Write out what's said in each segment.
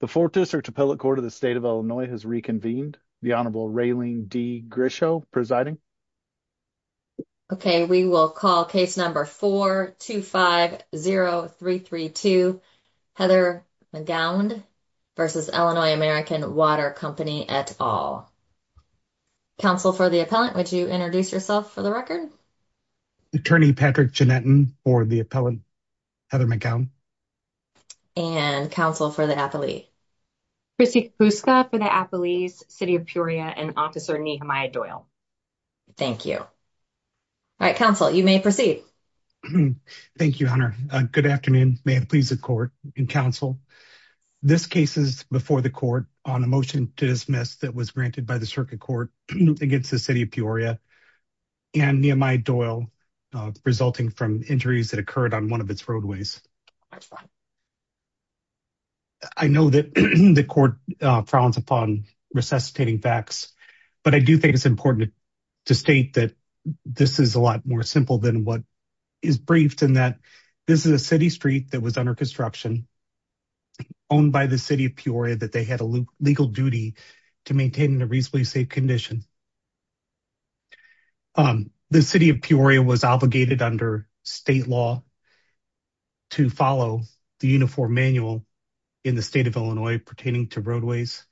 The 4th District Appellate Court of the State of Illinois has reconvened. The Honorable Raylene D. Grisho presiding. Okay, we will call case number 4-250-332, Heather McGownd v. Illinois-American Water Co. et al. Counsel for the appellant, would you introduce yourself for the record? Attorney Patrick Ginettin for the appellant, Heather McGownd. And counsel for the appellee? Kristi Kapuska for the appellee's City of Peoria and Officer Nehemiah Doyle. Thank you. All right, counsel, you may proceed. Thank you, Honor. Good afternoon. May it please the court and counsel. This case is before the court on a motion to dismiss that was granted by the circuit court against the City of Peoria and Nehemiah Doyle, resulting from injuries that occurred on one of its roadways. I know that the court frowns upon resuscitating facts, but I do think it's important to state that this is a lot more simple than what is briefed in that this is a city street that was under construction, owned by the City of Peoria, that they had a legal duty to maintain a reasonably safe condition. The City of Peoria was obligated under state law to follow the Uniform Manual in the state of Illinois pertaining to roadways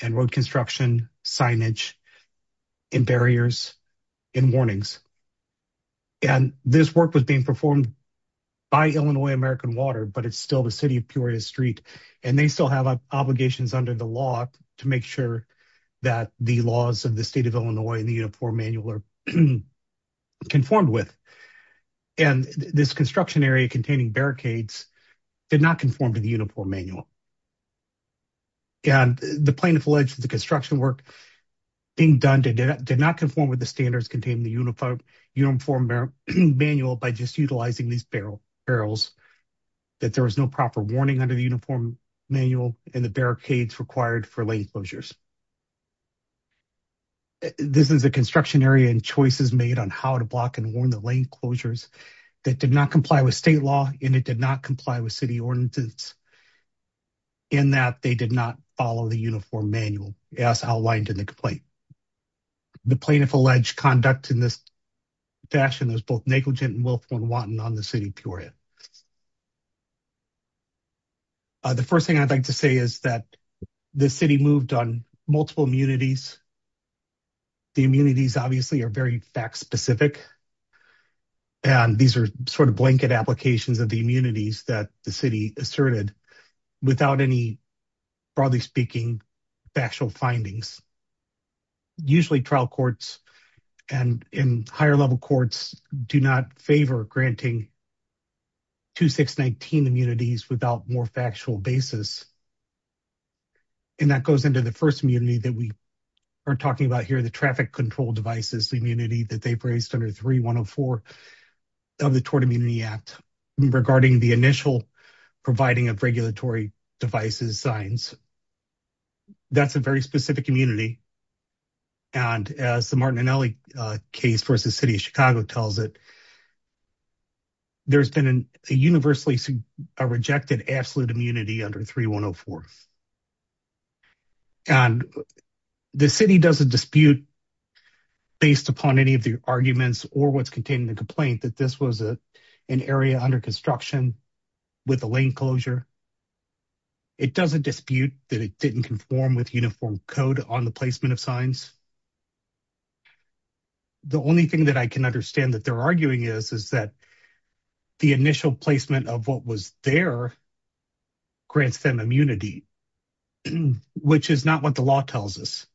and road construction, signage, and barriers and warnings. And this work was being performed by Illinois American Water, but it's still the City of Peoria street. And they still have obligations under the law to make sure that the laws of the state of Illinois and the Uniform Manual are conformed with. And this construction area containing barricades did not conform to the Uniform Manual. And the plaintiff alleged that the construction work being done did not conform with the standards contained in the Uniform Manual by just utilizing these barrels, that there was no proper warning under the Uniform Manual and the barricades required for lane closures. This is a construction area and choices made on how to block and warn the lane closures that did not comply with state law. And it did not comply with city ordinance in that they did not follow the Uniform Manual as outlined in the complaint. The plaintiff alleged conduct in this fashion was both negligent and willful and wanton on the City of Peoria. The first thing I'd like to say is that the city moved on multiple immunities. The immunities obviously are very fact specific. And these are sort of blanket applications of the immunities that the city asserted without any, broadly speaking, factual findings. Usually trial courts and in higher level courts do not favor granting 2619 immunities without more factual basis. And that goes into the first immunity that we are talking about here, the traffic control devices immunity that they've raised under 3104 of the Tort Immunity Act regarding the initial providing of regulatory devices signs. That's a very specific immunity. And as the Martin and Nellie case versus City of Chicago tells it, there's been a universally rejected absolute immunity under 3104. And the city doesn't dispute based upon any of the arguments or what's contained in the complaint that this was an area under construction with a lane closure. It doesn't dispute that it didn't conform with uniform code on the placement of signs. The only thing that I can understand that they're arguing is, is that the initial placement of what was there grants them immunity, which is not what the law tells us.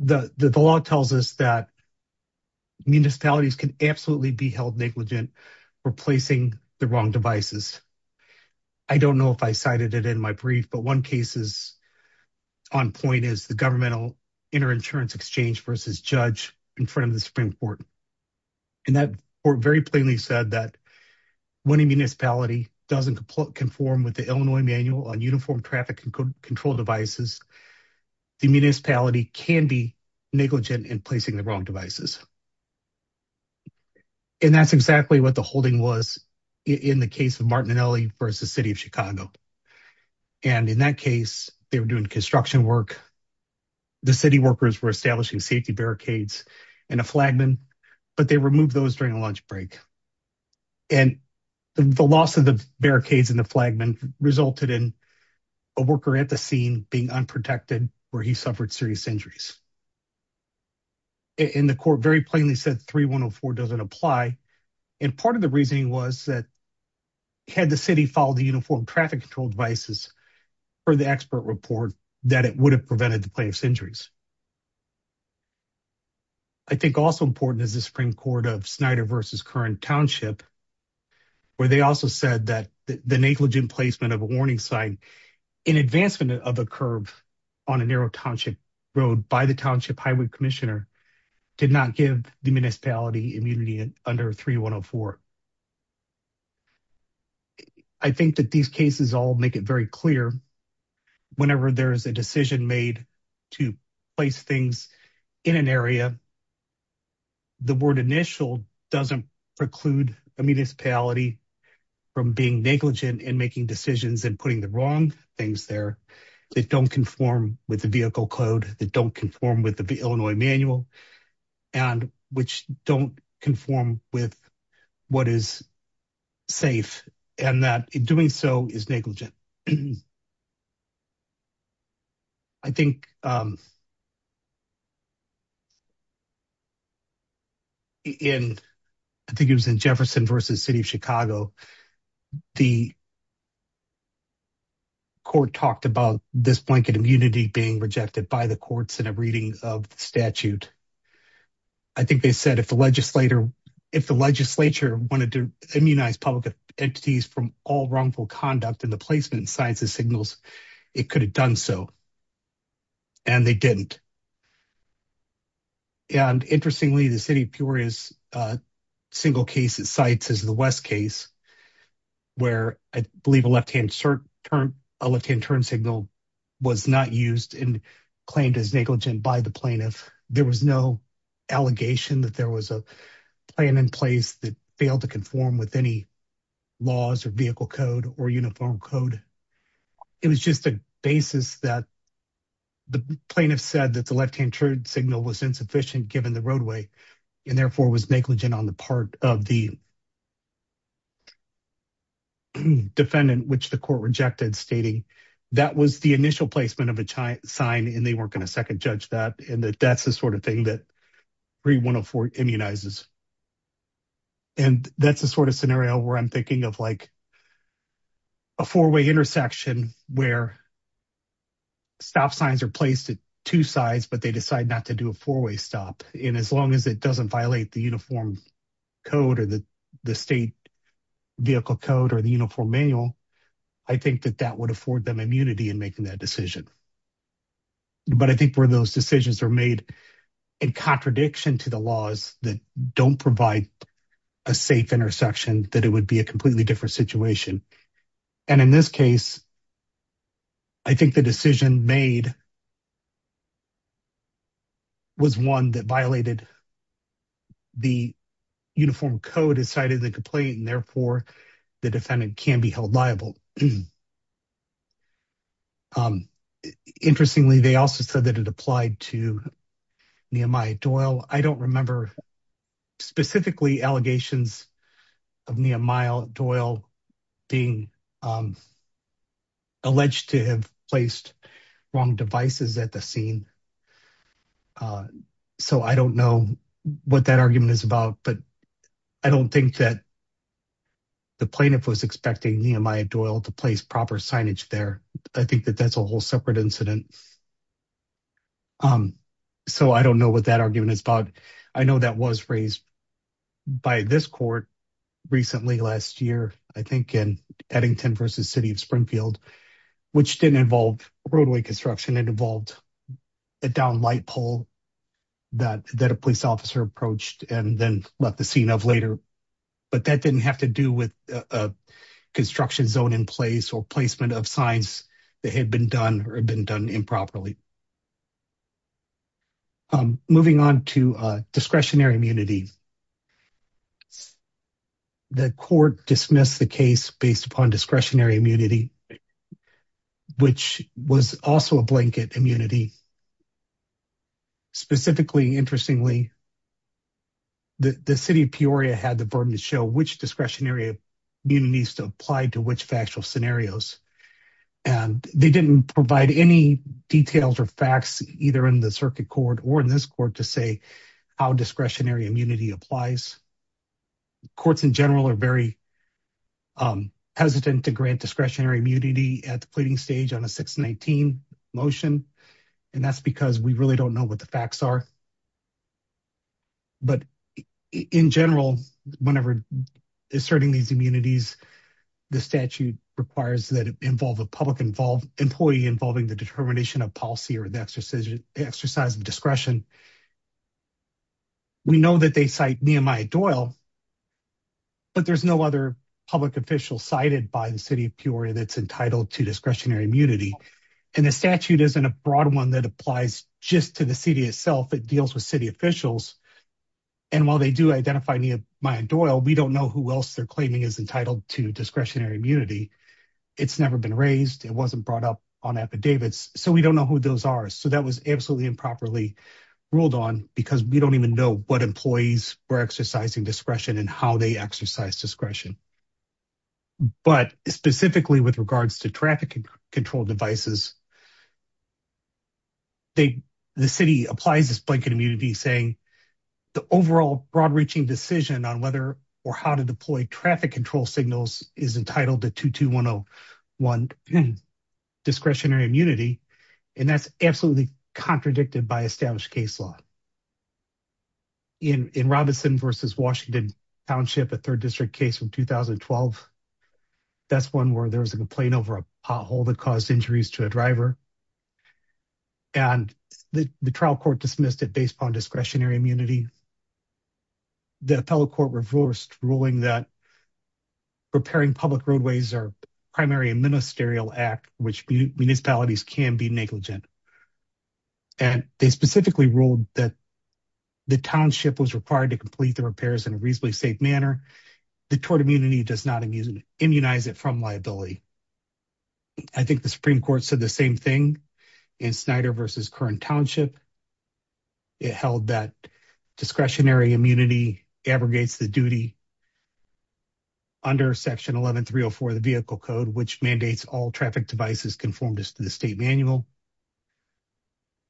The law tells us that municipalities can absolutely be held negligent for placing the wrong devices. I don't know if I cited it in my brief, but one case is on point is the governmental inter-insurance exchange versus judge in front of the Supreme Court. And that court very plainly said that when a municipality doesn't conform with the Illinois manual on uniform traffic control devices, the municipality can be negligent in placing the wrong devices. And that's exactly what the holding was in the case of Martin and Nellie versus City of Chicago. And in that case, they were doing construction work. The city workers were establishing safety barricades and a flagman, but they removed those during a lunch break. And the loss of the barricades and the flagman resulted in a worker at the scene being unprotected where he suffered serious injuries. And the court very plainly said 3104 doesn't apply. And part of the reasoning was that had the city followed the uniform traffic control devices for the expert report that it would have prevented the plaintiff's injuries. I think also important is the Supreme Court of Snyder versus current township, where they also said that the negligent placement of a warning sign in advancement of a curb on a did not give the municipality immunity under 3104. I think that these cases all make it very clear. Whenever there's a decision made to place things in an area, the word initial doesn't preclude a municipality from being negligent in making decisions and putting the wrong things there that don't conform with the vehicle code that don't conform with the Illinois manual and which don't conform with what is safe and that doing so is negligent. I think it was in Jefferson versus city of Chicago. The court talked about this immunity being rejected by the courts and a reading of the statute. I think they said if the legislature wanted to immunize public entities from all wrongful conduct in the placement signs and signals, it could have done so. And they didn't. And interestingly, the city of Peoria's single case it cites is the West case where I believe a left-hand turn signal was not used and claimed as negligent by the plaintiff. There was no allegation that there was a plan in place that failed to conform with any laws or vehicle code or uniform code. It was just a basis that the plaintiff said that the left-hand turn signal was insufficient given the roadway and therefore was negligent on the part of the defendant which the court rejected stating that was the initial placement of a sign and they weren't going to second judge that and that that's the sort of thing that 3104 immunizes. And that's the sort of scenario where I'm thinking of like a four-way intersection where stop signs are placed at two sides but they decide not to do a four-way stop. And as long as it doesn't violate the uniform code or the state vehicle code or the uniform manual, I think that that would afford them immunity in making that decision. But I think where those decisions are made in contradiction to the laws that don't provide a safe intersection that it would be a completely different situation. And in this case, I think the decision made was one that violated the uniform code inside of the complaint and therefore the defendant can be held liable. Interestingly, they also said that it applied to Nehemiah Doyle. I don't remember specifically allegations of Nehemiah Doyle being alleged to have placed wrong devices at the scene. So I don't know what that argument is about but I don't think that the plaintiff was expecting Nehemiah Doyle to place proper signage there. I think that that's a whole separate incident. So I don't know what that argument is about. I know that was raised by this court recently last year, I think in Eddington versus City of Springfield, which didn't involve roadway construction. It involved a downed light pole that a police officer approached and then left the scene of later. But that didn't have to do with a construction zone in place or placement of signs that had been done or had been done improperly. Moving on to discretionary immunity. The court dismissed the case based upon discretionary immunity, which was also a blanket immunity. Specifically, interestingly, the City of Peoria had the burden to show which discretionary immunities to apply to which factual scenarios and they didn't provide any details or facts either in the circuit court or in this court to say how discretionary immunity applies. Courts in general are very hesitant to grant discretionary immunity at the pleading stage on a 619 motion and that's because we really don't know what the facts are. But in general, whenever asserting these immunities, the statute requires that it involve a public employee involving the determination of policy or the exercise of discretion. We know that they cite Nehemiah Doyle, but there's no other public official cited by the City of Peoria that's entitled to discretionary immunity. And the statute isn't a broad one that applies just to the city itself. It deals with city officials. And while they do identify Nehemiah Doyle, we don't know who else they're claiming is entitled to discretionary immunity. It's never been raised. It wasn't brought up on affidavits. So we don't know who those are. So that was absolutely improperly ruled on because we don't even know what employees were exercising discretion and how they exercise discretion. But specifically with regards to traffic control devices, the city applies this blanket immunity saying the overall broad-reaching decision on whether or how to deploy traffic control signals is entitled to 22101 discretionary immunity. And that's absolutely contradicted by established case law. In Robinson v. Washington Township, a 3rd District case from 2012, that's one where there was a complaint over a pothole that caused injuries to a driver. And the trial court dismissed it based on discretionary immunity. The appellate court reversed ruling that repairing public roadways are primary ministerial act, which municipalities can be negligent. And they specifically ruled that the township was required to complete the repairs in a reasonably safe manner. The tort immunity does not immunize it from liability. I think the Supreme Court said the same thing in Snyder v. Current Township. It held that discretionary immunity abrogates the duty under Section 11304 of the Vehicle Code, which mandates all traffic devices conformed to the state manual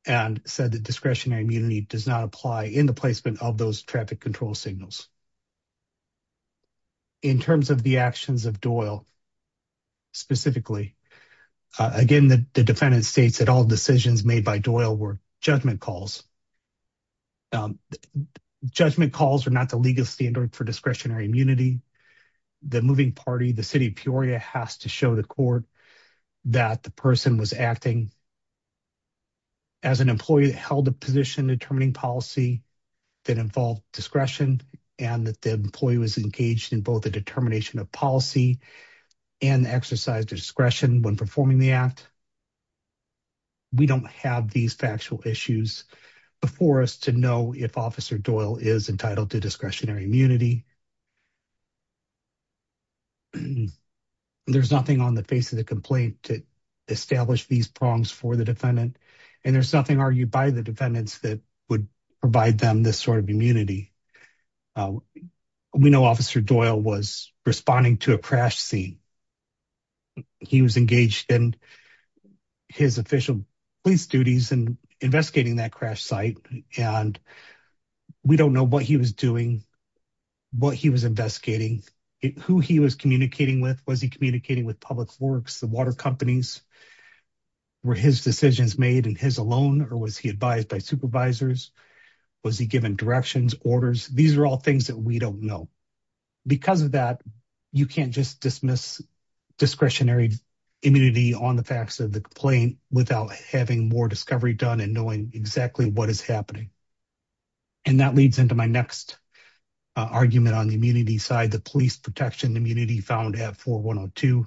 and said that discretionary immunity does not apply in the placement of those traffic signals. In terms of the actions of Doyle, specifically, again, the defendant states that all decisions made by Doyle were judgment calls. Judgment calls are not the legal standard for discretionary immunity. The moving party, the City of Peoria has to show the court that the person was acting as an employee that held a position determining policy that involved discretion and that the employee was engaged in both the determination of policy and exercise discretion when performing the act. We don't have these factual issues before us to know if Officer Doyle is entitled to discretionary immunity. There's nothing on the face of the complaint to establish these wrongs for the defendant, and there's nothing argued by the defendants that would provide them this sort of immunity. We know Officer Doyle was responding to a crash scene. He was engaged in his official police duties and investigating that crash site, and we don't know what he was doing, what he was investigating, who he was communicating with. Was he communicating with Public Works, the water companies? Were his decisions made and his alone, or was he advised by supervisors? Was he given directions, orders? These are all things that we don't know. Because of that, you can't just dismiss discretionary immunity on the facts of the complaint without having more discovery done and knowing exactly what is happening. And that leads into my next argument on the immunity side, the police protection immunity found at 4102.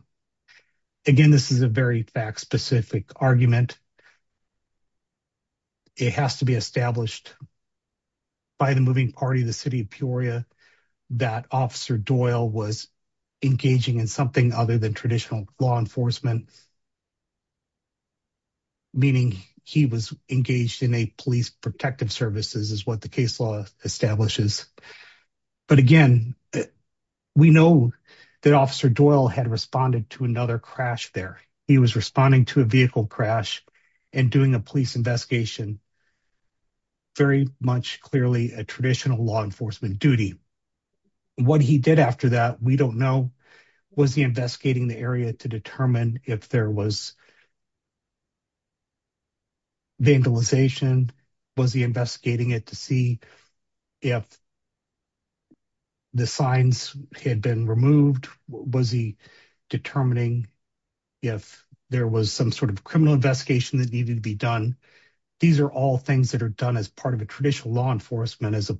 Again, this is a very fact-specific argument. It has to be established by the moving party of the City of Peoria that Officer Doyle was engaging in something other than traditional law enforcement, meaning he was engaged in a police protective services is what the case law establishes. But again, we know that Officer Doyle had responded to another crash there. He was responding to a vehicle crash and doing a police investigation, very much clearly a traditional law enforcement duty. What he did after that, we don't know. Was he investigating the area to determine if there was vandalization? Was he investigating it to see if the signs had been removed? Was he determining if there was some sort of criminal investigation that needed to be done? These are all things that are done as part of a traditional law enforcement as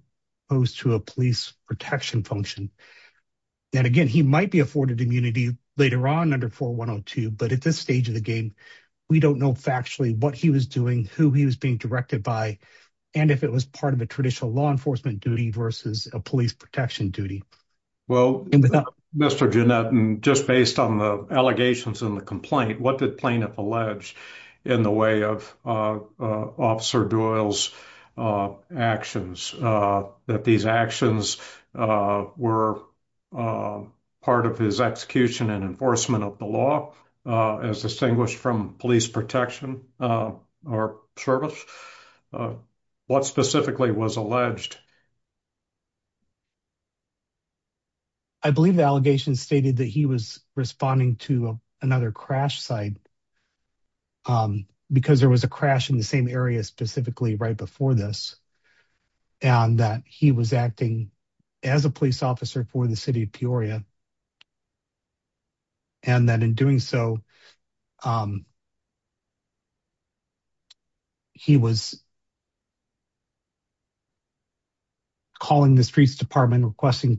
opposed to a police protection function. And again, he might be afforded immunity later on under 4102. But at this stage of the game, we don't know factually what he was doing, who he was being directed by, and if it was part of a traditional law enforcement duty versus a police protection duty. Well, Mr. Ginnett, and just based on the allegations in the complaint, what did plaintiff allege in the way of Officer Doyle's actions? That these actions were part of his execution and enforcement of the law as distinguished from police protection or service? What specifically was alleged? I believe the allegations stated that he was responding to another crash site because there was a crash in the same area specifically right before this and that he was acting as a police officer for the city of Peoria. And that in doing so, he was calling the streets department requesting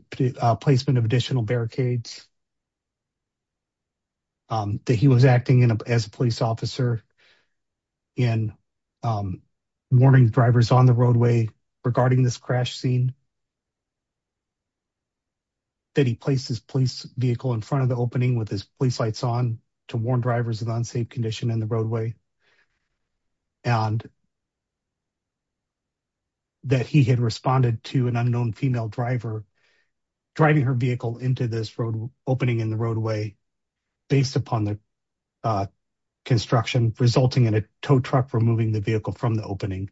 placement of additional barricades. That he was acting as a police officer in warning drivers on the roadway regarding this crash scene. That he placed his police vehicle in front of the opening with his police lights on to warn drivers of unsafe condition in the roadway. And that he had responded to an unknown female driver driving her vehicle into this road opening in the roadway based upon the construction resulting in a tow truck removing the vehicle from the opening.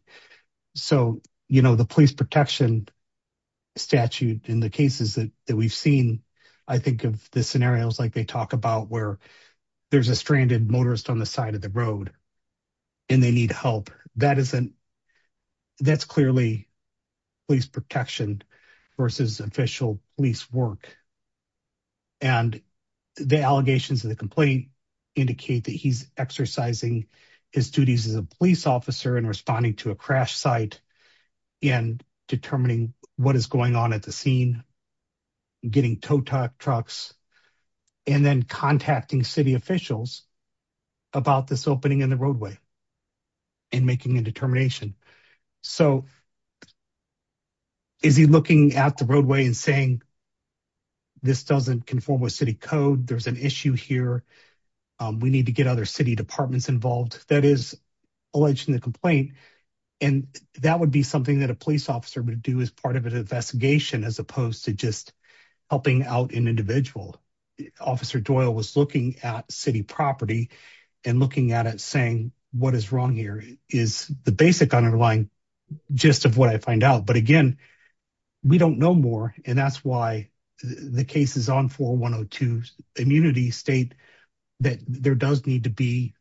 So, you know, the police protection statute in the cases that we've seen, I think of the scenarios like they talk about where there's a stranded motorist on the side of the road and they need help. That's clearly police protection versus official police work. And the allegations of the complaint indicate that he's exercising his duties as a police officer and responding to a crash site and determining what is going on at the scene, getting tow trucks and then contacting city officials about this opening in the roadway and making a determination. So, is he looking at the roadway and saying, this doesn't conform with city code. There's an issue here. We need to get other city departments involved that is alleged in the complaint. And that would be something that a police officer would do as part of an investigation as opposed to just helping out an individual. Officer Doyle was looking at city property and looking at it saying what is wrong here is the basic underlying gist of what I find out. But again, we don't know more. And that's why the cases on 4102 immunity state that there does need to be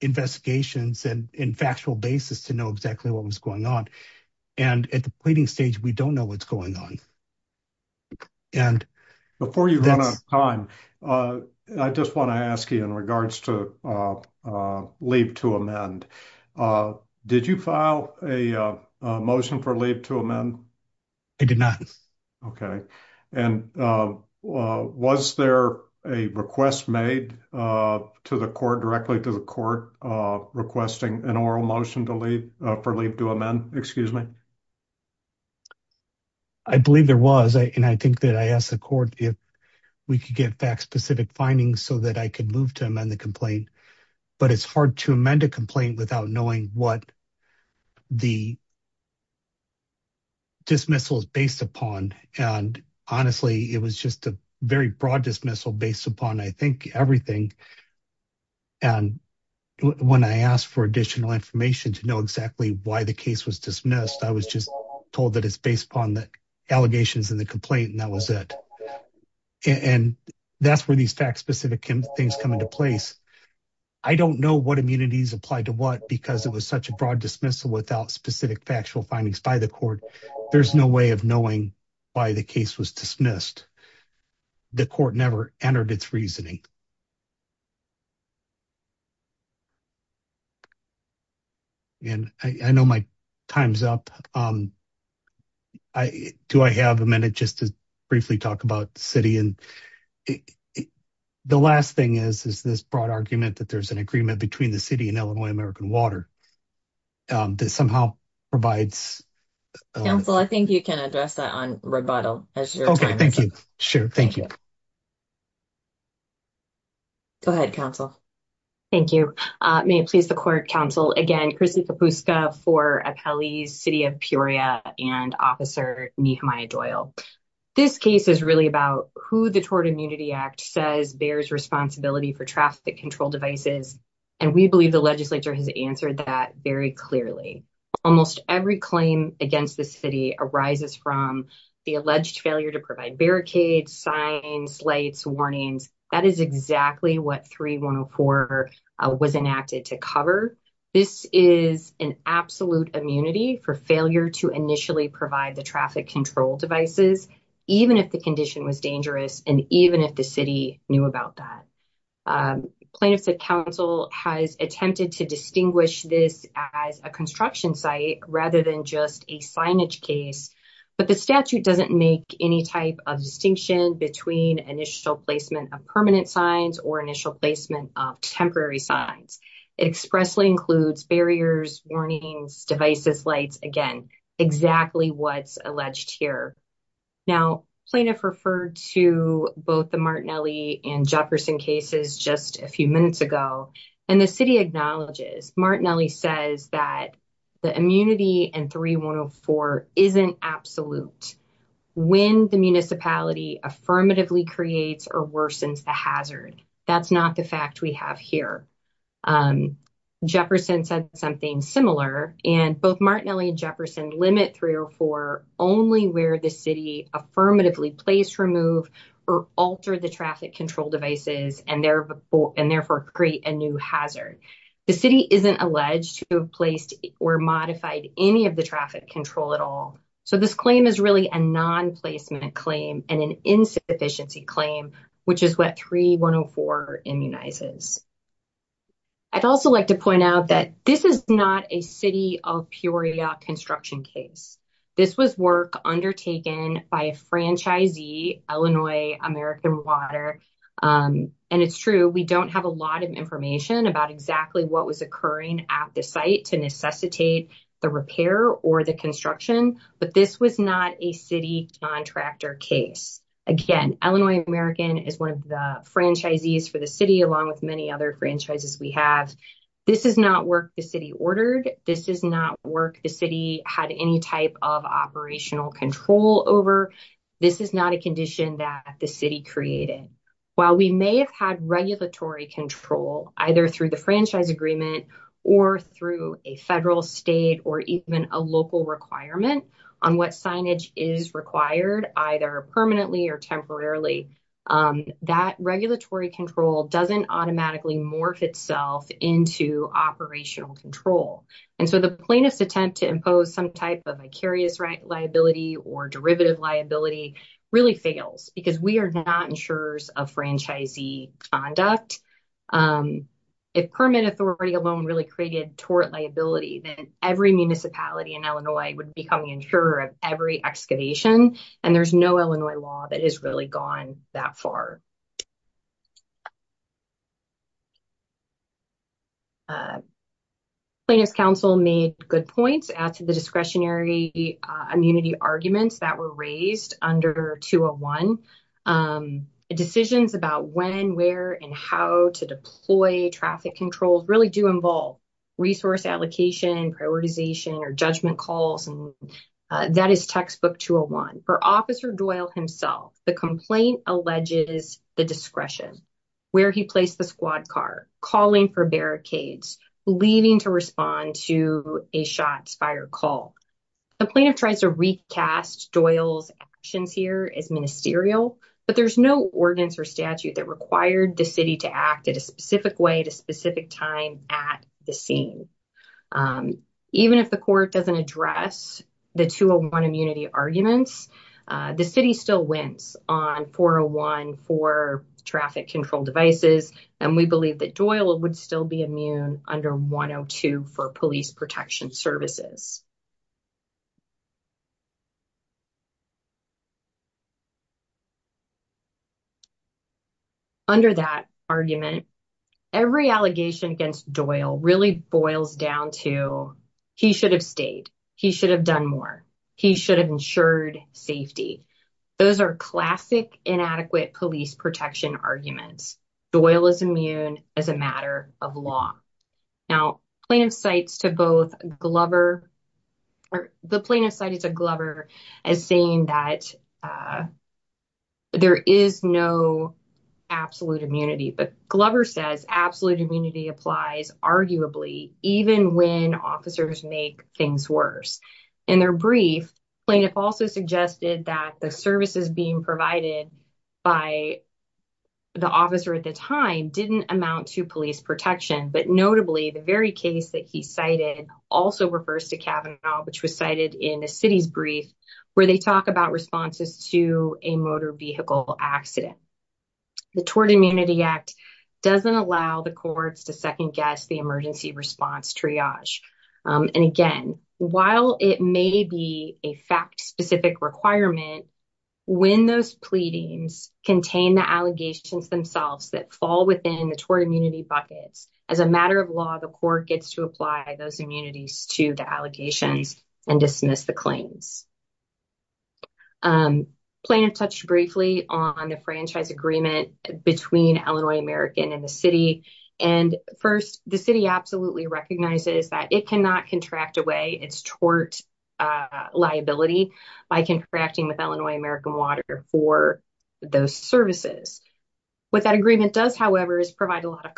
investigations and factual basis to know exactly what was going on. And at the pleading stage, we don't know what's going on. And before you run out of time, I just want to ask you in regards to leave to amend. Did you file a motion for leave to amend? I did not. Okay. And was there a request made to the court directly to the court requesting an oral motion for leave to amend? Excuse me. I believe there was. And I think that I asked the court if we could get back specific findings so that I could move to amend the complaint. But it's hard to amend a complaint without knowing what the dismissal is based upon. And honestly, it was just a very broad dismissal based upon, I think, everything. And when I asked for additional information to know exactly why the case was dismissed, I was just told that it's based upon the allegations in the complaint and that was it. And that's where these facts specific things come into place. I don't know what immunities apply to what because it was such a broad dismissal without specific factual findings by court. There's no way of knowing why the case was dismissed. The court never entered its reasoning. And I know my time's up. Do I have a minute just to briefly talk about the city? And the last thing is, is this broad argument that there's an agreement between the city and Illinois Council? I think you can address that on rebuttal. Okay, thank you. Sure. Thank you. Go ahead, counsel. Thank you. May it please the court counsel again, Chrissy Kapuska for Appellee's City of Peoria and Officer Nehemiah Doyle. This case is really about who the Tort Immunity Act says bears responsibility for traffic control devices. And we believe the legislature has answered that very clearly. Almost every claim against the city arises from the alleged failure to provide barricades, signs, lights, warnings. That is exactly what 3104 was enacted to cover. This is an absolute immunity for failure to initially provide the traffic control devices, even if the condition was dangerous, and even if the city knew about that. Plaintiffs and counsel has attempted to distinguish this as a construction site rather than just a signage case. But the statute doesn't make any type of distinction between initial placement of permanent signs or initial placement of temporary signs. It expressly includes barriers, warnings, devices, lights, again, exactly what's alleged here. Now plaintiff referred to both the Martinelli and Jefferson cases just a few minutes ago, and the city acknowledges Martinelli says that the immunity and 3104 isn't absolute when the municipality affirmatively creates or worsens the hazard. That's not the fact we have here. Jefferson said something similar, and both Martinelli and Jefferson limit 304 only where the city affirmatively place, remove, or alter the traffic control devices and therefore create a new hazard. The city isn't alleged to have placed or modified any of the traffic control at all. So this claim is really a non-placement claim and an insufficiency claim, which is what 3104 immunizes. I'd also like to point out that this is not a city of Peoria construction case. This was work undertaken by a franchisee, Illinois American Water. And it's true, we don't have a lot of information about exactly what was occurring at the site to necessitate the repair or the construction, but this was not a city contractor case. Again, Illinois American is one of the franchisees for the city along with many other franchises we have. This is not work the city ordered. This is not work the city had any type of operational control over. This is not a condition that the city created. While we may have had regulatory control, either through the franchise agreement or through a federal, state, or even a local requirement on what signage is required, either permanently or temporarily, that regulatory control doesn't automatically morph itself into operational control. And so the plaintiff's attempt to impose some type of vicarious liability or derivative liability really fails because we are not insurers of franchisee conduct. If permit authority alone really created tort liability, then every municipality in Illinois would become the insurer of every excavation. And there's no Illinois law that has really gone that far. Plaintiff's counsel made good points as to the discretionary immunity arguments that were raised under 201. Decisions about when, where, and how to deploy traffic controls really do involve resource allocation, prioritization, or judgment calls and that is textbook 201. For Officer Doyle himself, the complaint alleges the discretion, where he placed the squad car, calling for barricades, leaving to respond to a shots fired call. The plaintiff tries to recast Doyle's actions here as ministerial, but there's no ordinance or statute that required the city to act in a specific way at a specific time at the scene. Even if the court doesn't address the 201 immunity arguments, the city still wins on 401 for traffic control devices and we believe that Doyle would still be immune under 102 for police protection services. Under that argument, every allegation against Doyle really boils down to he should have stayed, he should have done more, he should have ensured safety. Those are classic inadequate police protection arguments. Doyle is immune as a matter of law. Now plaintiff cites to both Glover, or the plaintiff cited to Glover as saying that there is no absolute immunity, but Glover says absolute immunity applies arguably even when officers make things worse. In their brief, plaintiff also suggested that the services being provided by the officer at the time didn't amount to police protection, but notably the very case that he cited also refers to Kavanaugh, which was cited in the city's brief, where they talk about responses to a motor vehicle accident. The Tort Immunity Act doesn't allow the courts to second guess the emergency response triage. And again, while it may be a fact-specific requirement, when those pleadings contain the allegations themselves that fall within the tort immunity buckets, as a matter of law, the court gets to apply those immunities to the allegations and dismiss the claims. Plaintiff touched briefly on the franchise agreement between Illinois American and the city. And first, the city absolutely recognizes that it cannot contract away its tort liability by contracting with Illinois American Water for those services. What that agreement does, however, is provide a lot of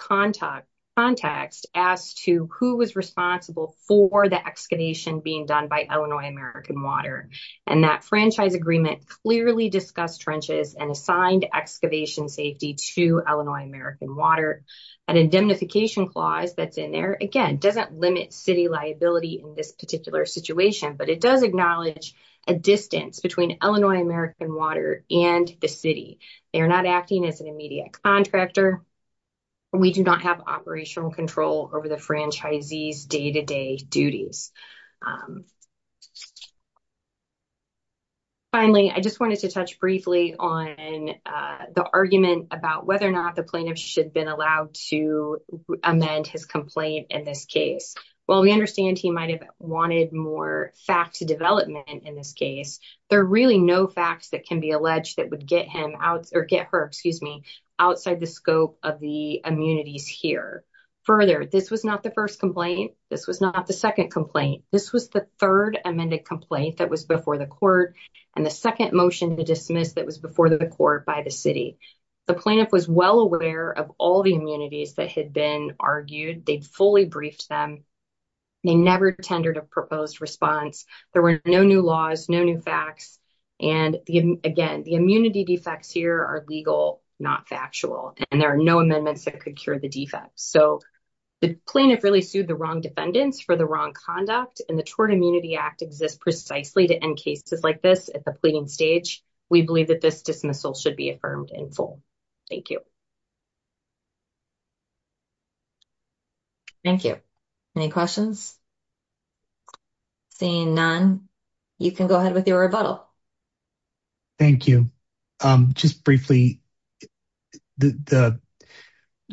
context as to who was responsible for the excavation being done by Illinois American Water. And that franchise agreement clearly discussed trenches and assigned excavation safety to Illinois American Water. An indemnification clause that's in there, again, doesn't limit city liability in this particular situation, but it does acknowledge a distance between Illinois American Water and the city. They are not acting as an immediate contractor. We do not have operational control over the franchisees' day-to-day duties. Finally, I just wanted to touch briefly on the argument about whether or not the plaintiff should been allowed to amend his complaint in this case. While we understand he might have wanted more facts development in this case, there are really no facts that can be alleged that would get him out or get her, excuse me, outside the scope of the immunities here. Further, this was not the second complaint. This was the third amended complaint that was before the court and the second motion to dismiss that was before the court by the city. The plaintiff was well aware of all the immunities that had been argued. They'd fully briefed them. They never tendered a proposed response. There were no new laws, no new facts. And again, the immunity defects here are legal, not factual, and there are no amendments that could cure the defects. So, the plaintiff really wrong defendants for the wrong conduct and the Tort Immunity Act exists precisely to end cases like this at the pleading stage. We believe that this dismissal should be affirmed in full. Thank you. Thank you. Any questions? Seeing none, you can go ahead with your rebuttal. Thank you. Just briefly, the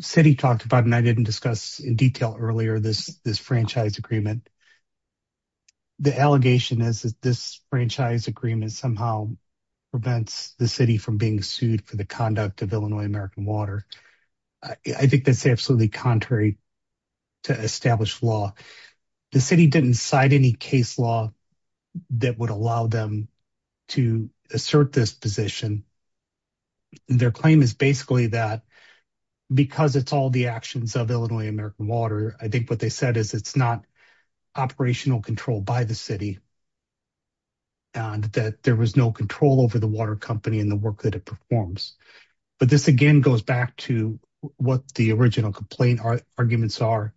city talked about, and I didn't discuss in detail earlier, this franchise agreement. The allegation is that this franchise agreement somehow prevents the city from being sued for the conduct of Illinois American Water. I think that's absolutely contrary to established law. The city didn't cite any case law that would allow them to assert this position. Their claim is basically that because it's all actions of Illinois American Water, I think what they said is it's not operational control by the city and that there was no control over the water company and the work that it performs. But this again goes back to what the original complaint arguments are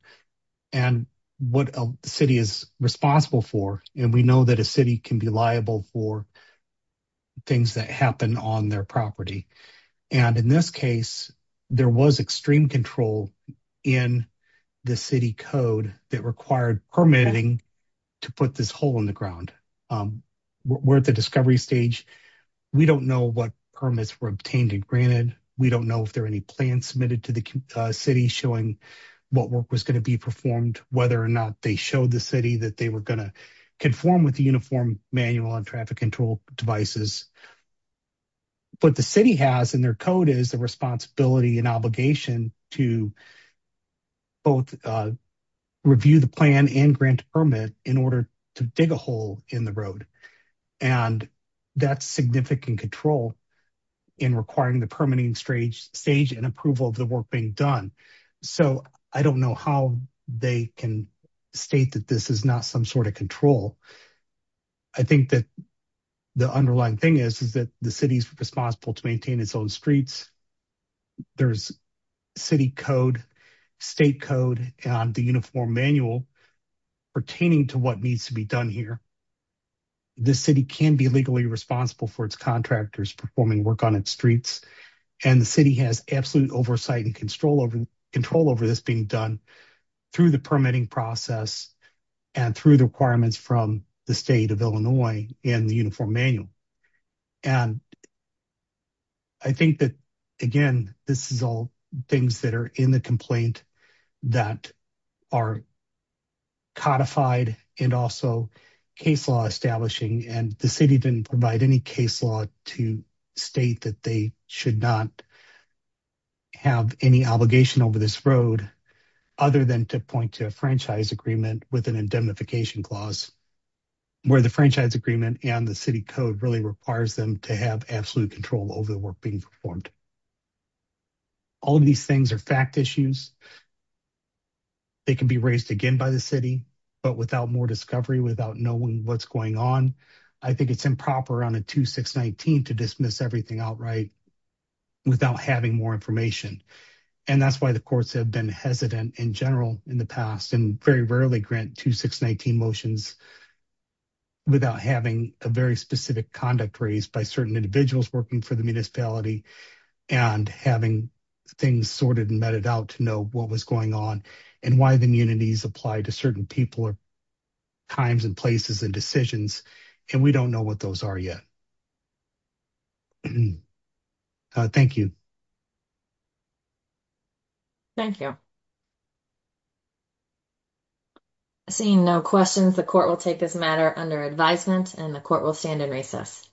and what a city is responsible for. And we know that a city can be liable for things that happen on their property. And in this case, there was extreme control in the city code that required permitting to put this hole in the ground. We're at the discovery stage. We don't know what permits were obtained and granted. We don't know if there are any plans submitted to the city showing what work was going to be performed, whether or not they showed the city that they were going to perform with the uniform manual and traffic control devices. But the city has in their code is the responsibility and obligation to both review the plan and grant permit in order to dig a hole in the road. And that's significant control in requiring the permitting stage and approval of the work being done. So I don't know how they can state that this is not some sort of control. I think that the underlying thing is, is that the city is responsible to maintain its own streets. There's city code, state code on the uniform manual pertaining to what needs to be done here. The city can be legally responsible for its contractors performing work on its streets. And the city has absolute oversight and control over this being done through the permitting process and through the requirements from the state of Illinois and the uniform manual. And I think that, again, this is all things that are in the complaint that are codified and also case law establishing. And the city didn't provide any case law to state that they should not have any obligation over this road, other than to point to a franchise agreement with an indemnification clause where the franchise agreement and the city code really requires them to have absolute control over the work being performed. All of these things are fact issues. They can be raised again by the city, but without more discovery, without knowing what's going on, I think it's improper on a 2-6-19 to dismiss everything outright without having more information. And that's why the courts have been hesitant in general in the past and very rarely grant 2-6-19 motions without having a very specific conduct raised by certain individuals working for the what was going on and why the immunities apply to certain people or times and places and decisions. And we don't know what those are yet. Thank you. Thank you. Seeing no questions, the court will take this matter under advisement and the court will stand in recess.